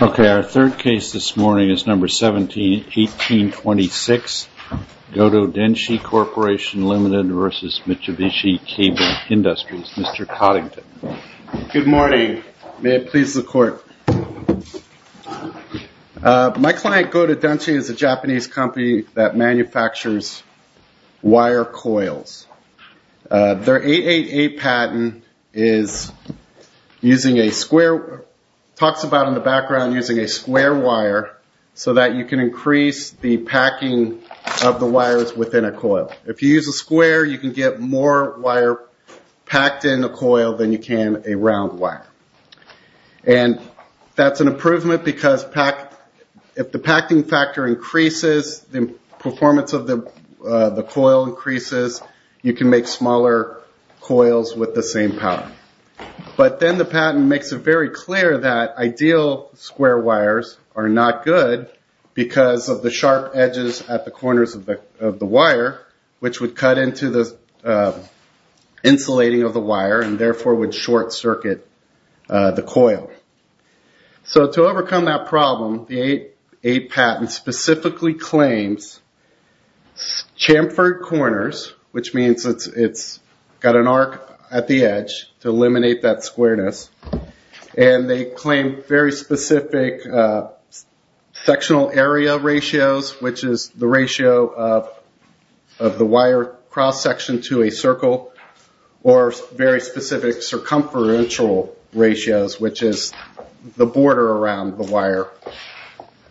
Okay, our third case this morning is number 17, 1826, Dodo Denshi Corporation Limited versus Mitsubishi Cable Industries, Mr. Coddington. Good morning, may it please the court. My client, Dodo Denshi, is a Japanese company that manufactures wire coils. Their 888 patent is using a square, talks about in the background, using a square wire so that you can increase the packing of the wires within a coil. If you use a square, you can get more wire packed in a coil than you can a round wire. And that's an improvement because if the packing factor increases, the performance of the coil increases, you can make smaller coils with the same power. But then the patent makes it very clear that ideal square wires are not good because of the sharp edges at the corners of the wire, which would cut into the insulating of the wire and therefore would short circuit the coil. So to overcome that problem, the 888 patent specifically claims chamfered corners, which means it's got an arc at the edge to eliminate that squareness. And they claim very specific sectional area ratios, which is the ratio of the wire cross-section to a circle, or very specific circumferential ratios, which is the border around the wire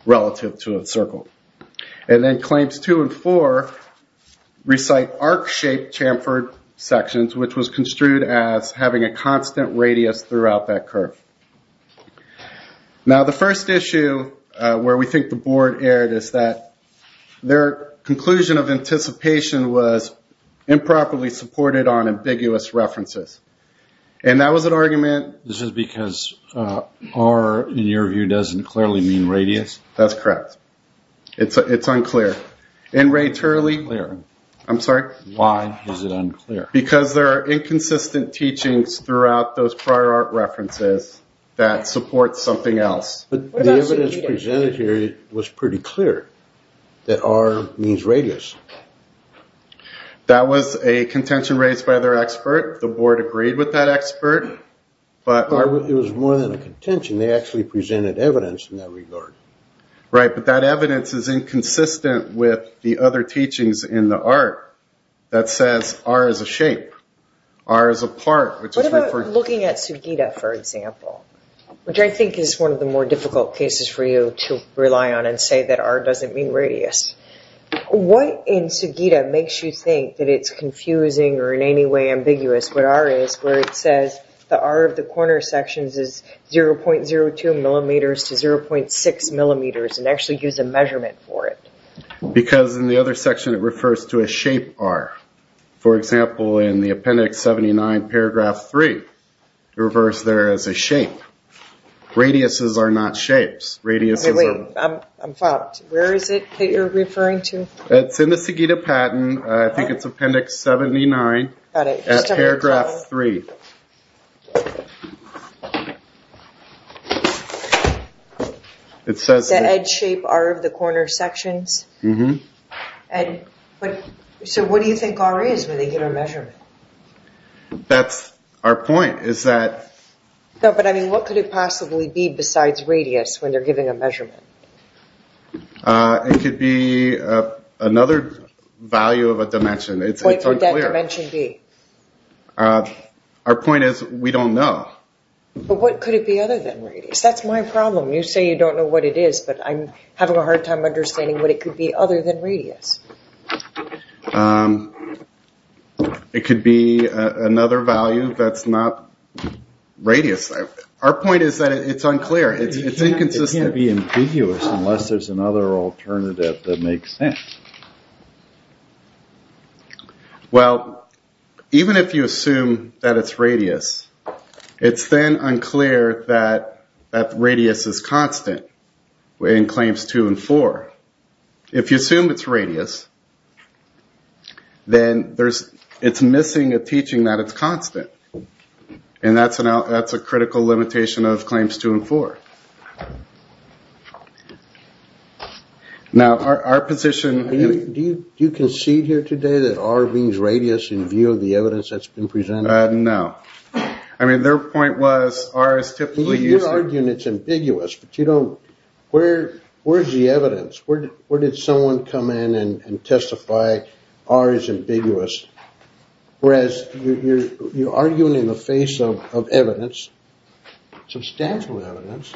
relative to a circle. And then claims two and four recite arc-shaped chamfered sections, which was construed as having a constant radius throughout that curve. Now the first issue where we think the board erred is that their conclusion of anticipation was improperly supported on ambiguous references. And that was an argument... This is because R, in your view, doesn't clearly mean radius? That's correct. It's unclear. And Ray Turley... Clear. I'm sorry? Why is it unclear? Because there are inconsistent teachings throughout those prior art references that support something else. But the evidence presented here was pretty clear that R means radius. That was a contention raised by their expert. The board agreed with that expert. But it was more than a contention, they actually presented evidence in that regard. Right, but that evidence is inconsistent with the other teachings in the art that says R is a shape, R is a part, which was referred to... What about looking at Sugita, for example, which I think is one of the more difficult cases for you to rely on and say that R doesn't mean radius. What in Sugita makes you think that it's confusing or in any way ambiguous what R is, where it says the R of the corner sections is 0.02 millimeters to 0.6 millimeters and actually use a measurement for it? Because in the other section it refers to a shape R. For example, in the appendix 79 paragraph 3, reverse there as a shape. Radiuses are not shapes. Radiuses are... Wait, I'm fucked. Where is it that you're referring to? It's in the Sugita patent, I think it's appendix 79 at paragraph 3. It says... It's a shape R of the corner sections. So what do you think R is when they give a measurement? That's our point, is that... No, but I mean, what could it possibly be besides radius when they're giving a measurement? It could be another value of a dimension. It's unclear. What could that dimension be? Our point is we don't know. But what could it be other than radius? That's my problem. You say you don't know what it is, but I'm having a hard time understanding what it could be other than radius. It could be another value that's not radius. Our point is that it's unclear. It's inconsistent. It can't be ambiguous unless there's another alternative that makes sense. Well, even if you assume that it's radius, it's then unclear that that radius is constant in claims 2 and 4. If you assume it's radius, then it's missing a teaching that it's constant. And that's a critical limitation of claims 2 and 4. Now, our position... Do you concede here today that R means radius in view of the evidence that's been presented? No. I mean, their point was R is typically used... You're arguing it's ambiguous, but you don't... Where's the evidence? Where did someone come in and testify R is ambiguous? Whereas you're arguing in the face of evidence, substantial evidence,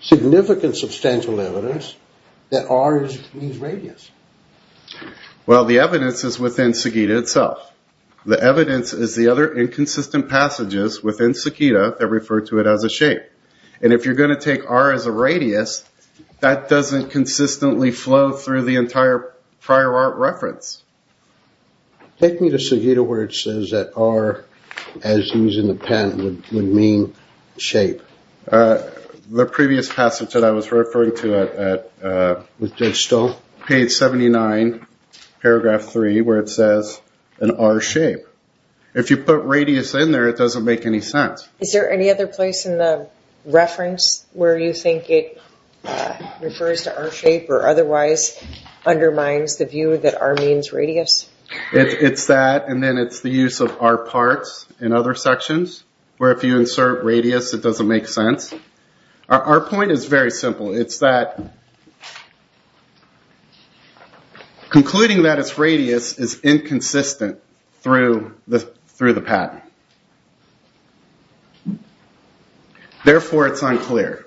significant substantial evidence, that R means radius. Well, the evidence is within Sagitta itself. The evidence is the other inconsistent passages within Sagitta that refer to it as a shape. And if you're going to take R as a radius, that doesn't consistently flow through the Take me to Sagitta where it says that R, as used in the pen, would mean shape. The previous passage that I was referring to at... With Judge Stahl? Page 79, paragraph 3, where it says an R shape. If you put radius in there, it doesn't make any sense. Is there any other place in the reference where you think it refers to R shape or otherwise undermines the view that R means radius? It's that, and then it's the use of R parts in other sections, where if you insert radius, it doesn't make sense. Our point is very simple. It's that concluding that it's radius is inconsistent through the pattern. Therefore, it's unclear.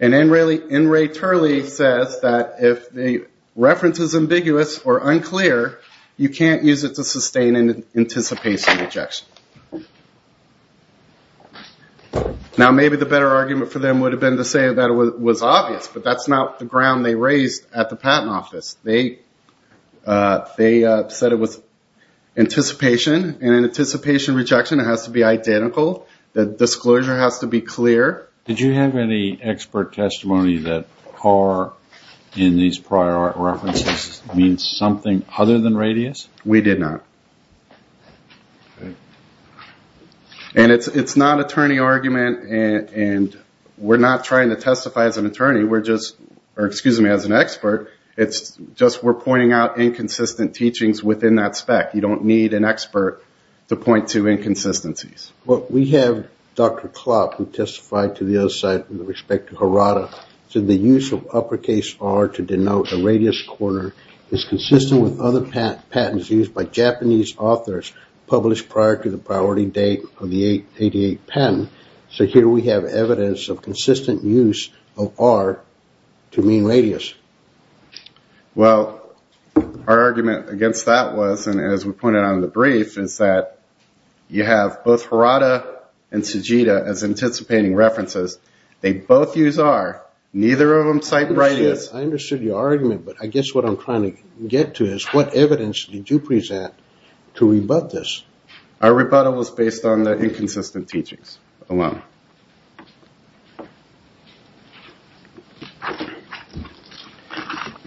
And N. Ray Turley says that if the reference is ambiguous or unclear, you can't use it to sustain an anticipation rejection. Now, maybe the better argument for them would have been to say that it was obvious, but that's not the ground they raised at the Patent Office. They said it was anticipation, and in anticipation rejection, it has to be identical. The disclosure has to be clear. Did you have any expert testimony that R in these prior references means something other than radius? We did not. And it's not attorney argument, and we're not trying to testify as an attorney, or excuse me, as an expert. It's just we're pointing out inconsistent teachings within that spec. You don't need an expert to point to inconsistencies. Well, we have Dr. Klopp, who testified to the other side with respect to Harada, said the use of uppercase R to denote a radius corner is consistent with other patents used by Japanese authors published prior to the priority date of the 88 patent. So here we have evidence of consistent use of R to mean radius. Well, our argument against that was, and as we pointed out in the brief, is that you have both Harada and Tsujita as anticipating references. They both use R. Neither of them cite radius. I understood your argument, but I guess what I'm trying to get to is what evidence did you present to rebut this? Our rebuttal was based on the inconsistent teachings alone.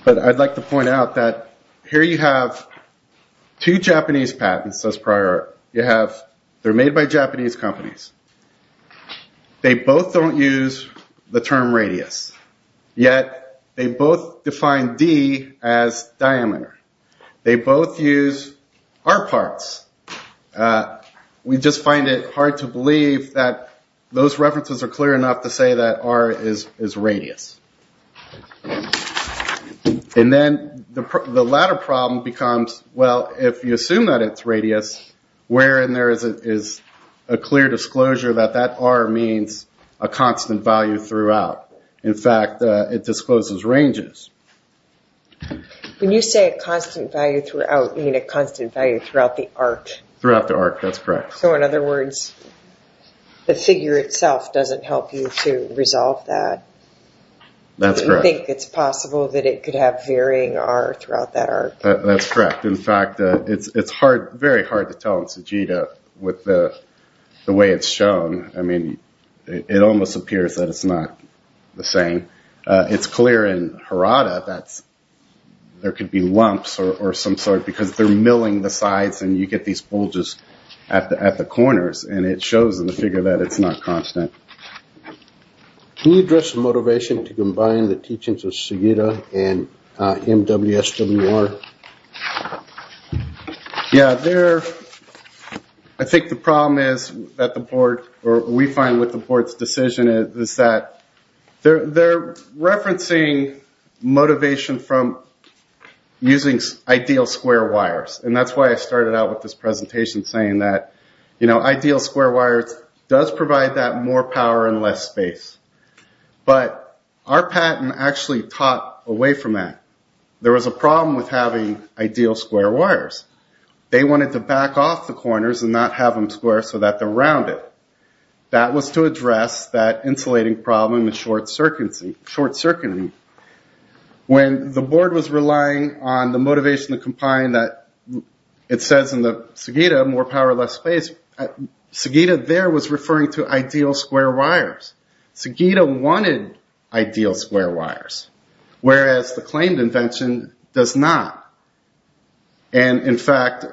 But I'd like to point out that here you have two Japanese patents as prior. You have they're made by Japanese companies. They both don't use the term radius, yet they both define D as diameter. They both use R parts. We just find it hard to believe that those references are clear enough to say that R is radius. And then the latter problem becomes, well, if you assume that it's radius, where in there is a clear disclosure that that R means a constant value throughout? In fact, it discloses ranges. When you say a constant value throughout, you mean a constant value throughout the arc? Throughout the arc, that's correct. So, in other words, the figure itself doesn't help you to resolve that? That's correct. You think it's possible that it could have varying R throughout that arc? That's correct. In fact, it's very hard to tell in Tsujita with the way it's shown. I mean, it almost appears that it's not the same. It's clear in Harada that there could be lumps or some sort because they're milling the sides, and you get these bulges at the corners, and it shows in the figure that it's not constant. Can you address the motivation to combine the teachings of Tsujita and MWSWR? Yeah, I think the problem is that the board, or we find what the board's decision is, is that they're referencing motivation from using ideal square wires, and that's why I started out with this presentation saying that, you know, ideal square wires does provide that more power and less space. But our patent actually taught away from that. There was a problem with having ideal square wires. They wanted to back off the corners and not have them square so that they're rounded. That was to address that insulating problem and short-circuiting. When the board was relying on the motivation to combine that, it says in the Tsujita, more power, less space, Tsujita there was referring to ideal square wires. Tsujita wanted ideal square wires, whereas the claimed invention does not. And, in fact,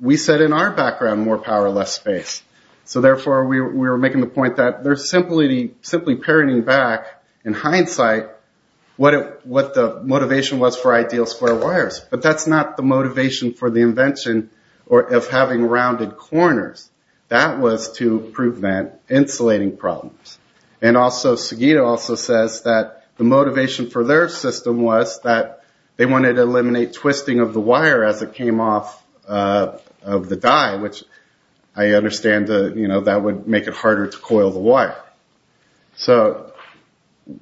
we said in our background more power, less space. So, therefore, we were making the point that they're simply parroting back, in hindsight, what the motivation was for ideal square wires. But that's not the motivation for the invention of having rounded corners. That was to prevent insulating problems. And also Tsujita also says that the motivation for their system was that they wanted to eliminate twisting of the wire as it came off of the die, which I understand, you know, that would make it harder to coil the wire. So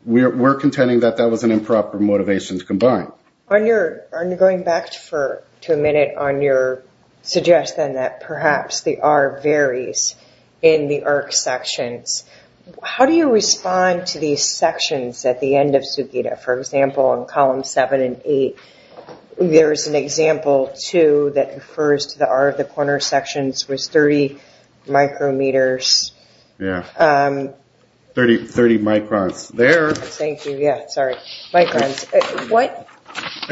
we're contending that that was an improper motivation to combine. Going back to a minute on your suggestion that perhaps the R varies in the arc sections, how do you respond to these sections at the end of Tsujita? For example, in columns 7 and 8, there is an example, too, that refers to the R of the corner sections was 30 micrometers. Yeah. 30 microns there. Thank you. Yeah, sorry. Microns.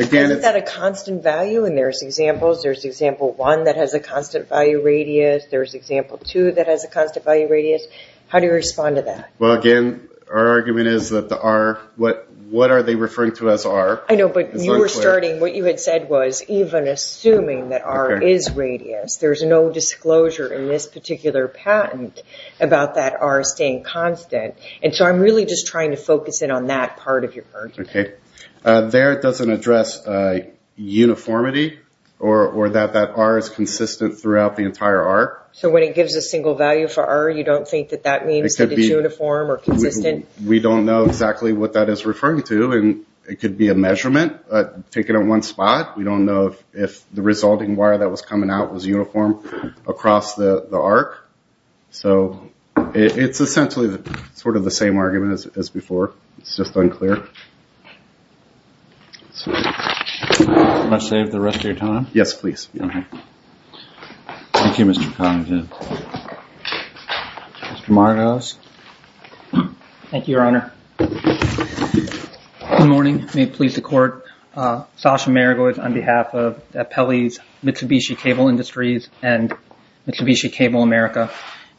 Isn't that a constant value? And there's examples. There's example 1 that has a constant value radius. There's example 2 that has a constant value radius. How do you respond to that? Well, again, our argument is that the R, what are they referring to as R? I know, but you were starting, what you had said was even assuming that R is radius. There's no disclosure in this particular patent about that R staying constant. And so I'm really just trying to focus in on that part of your argument. Okay. There it doesn't address uniformity or that that R is consistent throughout the entire arc. So when it gives a single value for R, you don't think that that means that it's uniform or consistent? We don't know exactly what that is referring to, and it could be a measurement taken in one spot. We don't know if the resulting wire that was coming out was uniform across the arc. So it's essentially sort of the same argument as before. It's just unclear. Do you want to save the rest of your time? Yes, please. Okay. Thank you, Mr. Connington. Mr. Maragos. Thank you, Your Honor. Good morning. May it please the Court. Sasha Maragos on behalf of the appellees Mitsubishi Cable Industries and Mitsubishi Cable America.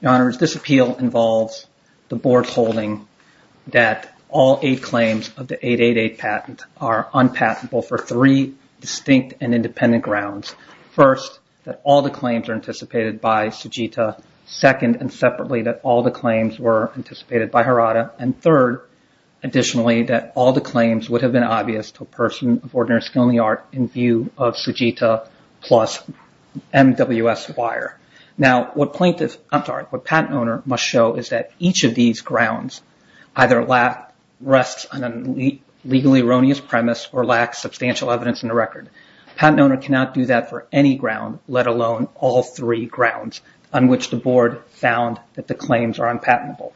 Your Honor, this appeal involves the Board holding that all eight claims of the 888 patent are unpatentable for three distinct and independent grounds. First, that all the claims are anticipated by Sujita. Second, and separately, that all the claims were anticipated by Harada. And third, additionally, that all the claims would have been obvious to a person of ordinary skill and the art in view of Sujita plus MWS wire. Now, what patent owner must show is that each of these grounds either rests on a legally erroneous premise or lacks substantial evidence in the record. Patent owner cannot do that for any ground, let alone all three grounds, on which the Board found that the claims are unpatentable.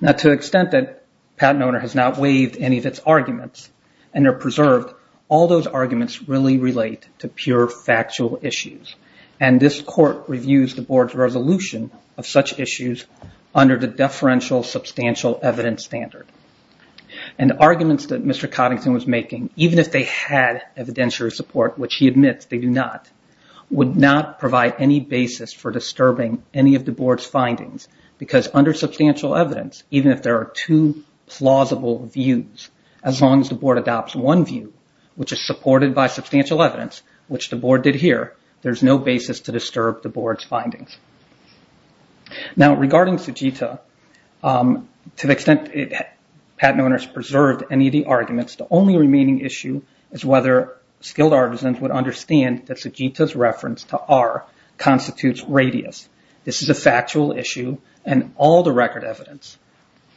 Now, to the extent that patent owner has not waived any of its arguments and they're preserved, all those arguments really relate to pure factual issues. And this Court reviews the Board's resolution of such issues under the deferential substantial evidence standard. And the arguments that Mr. Coddington was making, even if they had evidentiary support, which he admits they do not, would not provide any basis for disturbing any of the Board's findings because under substantial evidence, even if there are two plausible views, as long as the Board adopts one view, which is supported by substantial evidence, which the Board did here, there's no basis to disturb the Board's findings. Now, regarding Sujita, to the extent patent owners preserved any of the arguments, the only remaining issue is whether skilled artisans would understand that Sujita's reference to R constitutes radius. This is a factual issue and all the record evidence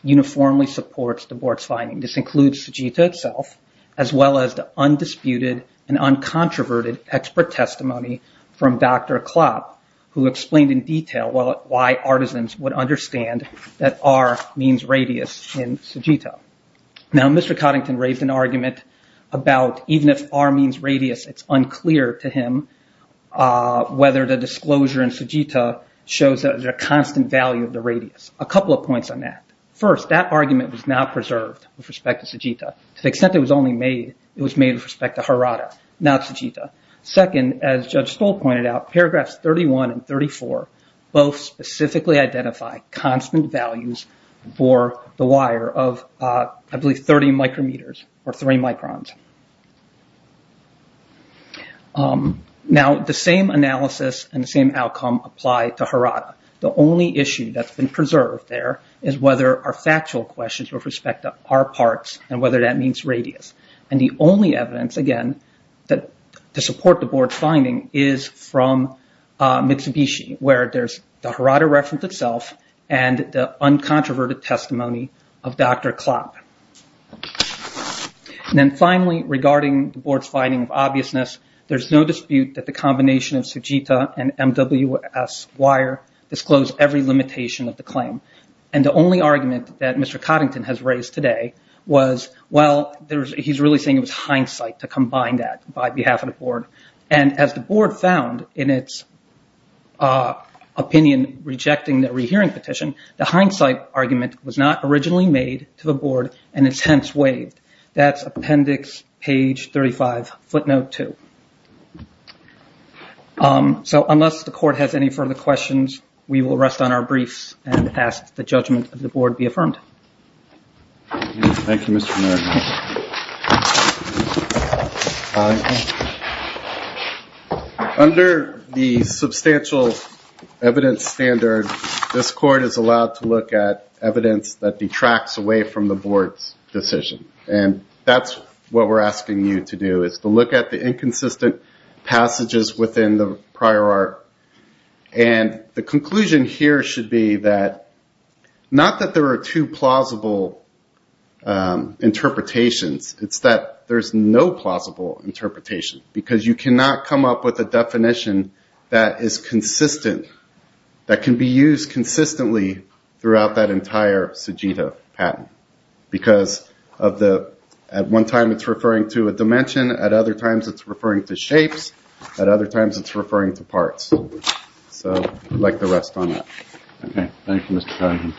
uniformly supports the Board's finding. This includes Sujita itself, as well as the undisputed and uncontroverted expert testimony from Dr. Klopp, who explained in detail why artisans would understand that R means radius in Sujita. Now, Mr. Coddington raised an argument about even if R means radius, it's unclear to him whether the disclosure in Sujita shows a constant value of the radius. A couple of points on that. First, that argument was not preserved with respect to Sujita. To the extent it was only made, it was made with respect to Harada, not Sujita. Second, as Judge Stoll pointed out, paragraphs 31 and 34 both specifically identify constant values for the wire of, I believe, 30 micrometers or 3 microns. Now, the same analysis and the same outcome apply to Harada. The only issue that's been preserved there is whether our factual questions with respect to R parts and whether that means radius. The only evidence, again, to support the Board's finding is from Mitsubishi, where there's the Harada reference itself and the uncontroverted testimony of Dr. Klopp. Finally, regarding the Board's finding of obviousness, there's no dispute that the combination of Sujita and MWS wire disclosed every limitation of the claim. The only argument that Mr. Coddington has raised today was, well, he's really saying it was hindsight to combine that by behalf of the Board. And as the Board found in its opinion rejecting the rehearing petition, the hindsight argument was not originally made to the Board and is hence waived. That's appendix page 35, footnote 2. So unless the Court has any further questions, we will rest on our briefs and ask the judgment of the Board be affirmed. Thank you, Mr. Norton. Under the substantial evidence standard, this Court is allowed to look at evidence that detracts away from the Board's decision. And that's what we're asking you to do, is to look at the inconsistent passages within the prior art. And the conclusion here should be that, not that there are two plausible interpretations, it's that there's no plausible interpretation. Because you cannot come up with a definition that is consistent, that can be used consistently throughout that entire Sujita patent. Because at one time it's referring to a dimension, at other times it's referring to shapes, at other times it's referring to parts. So I'd like to rest on that. Thank you, Mr. Cronin.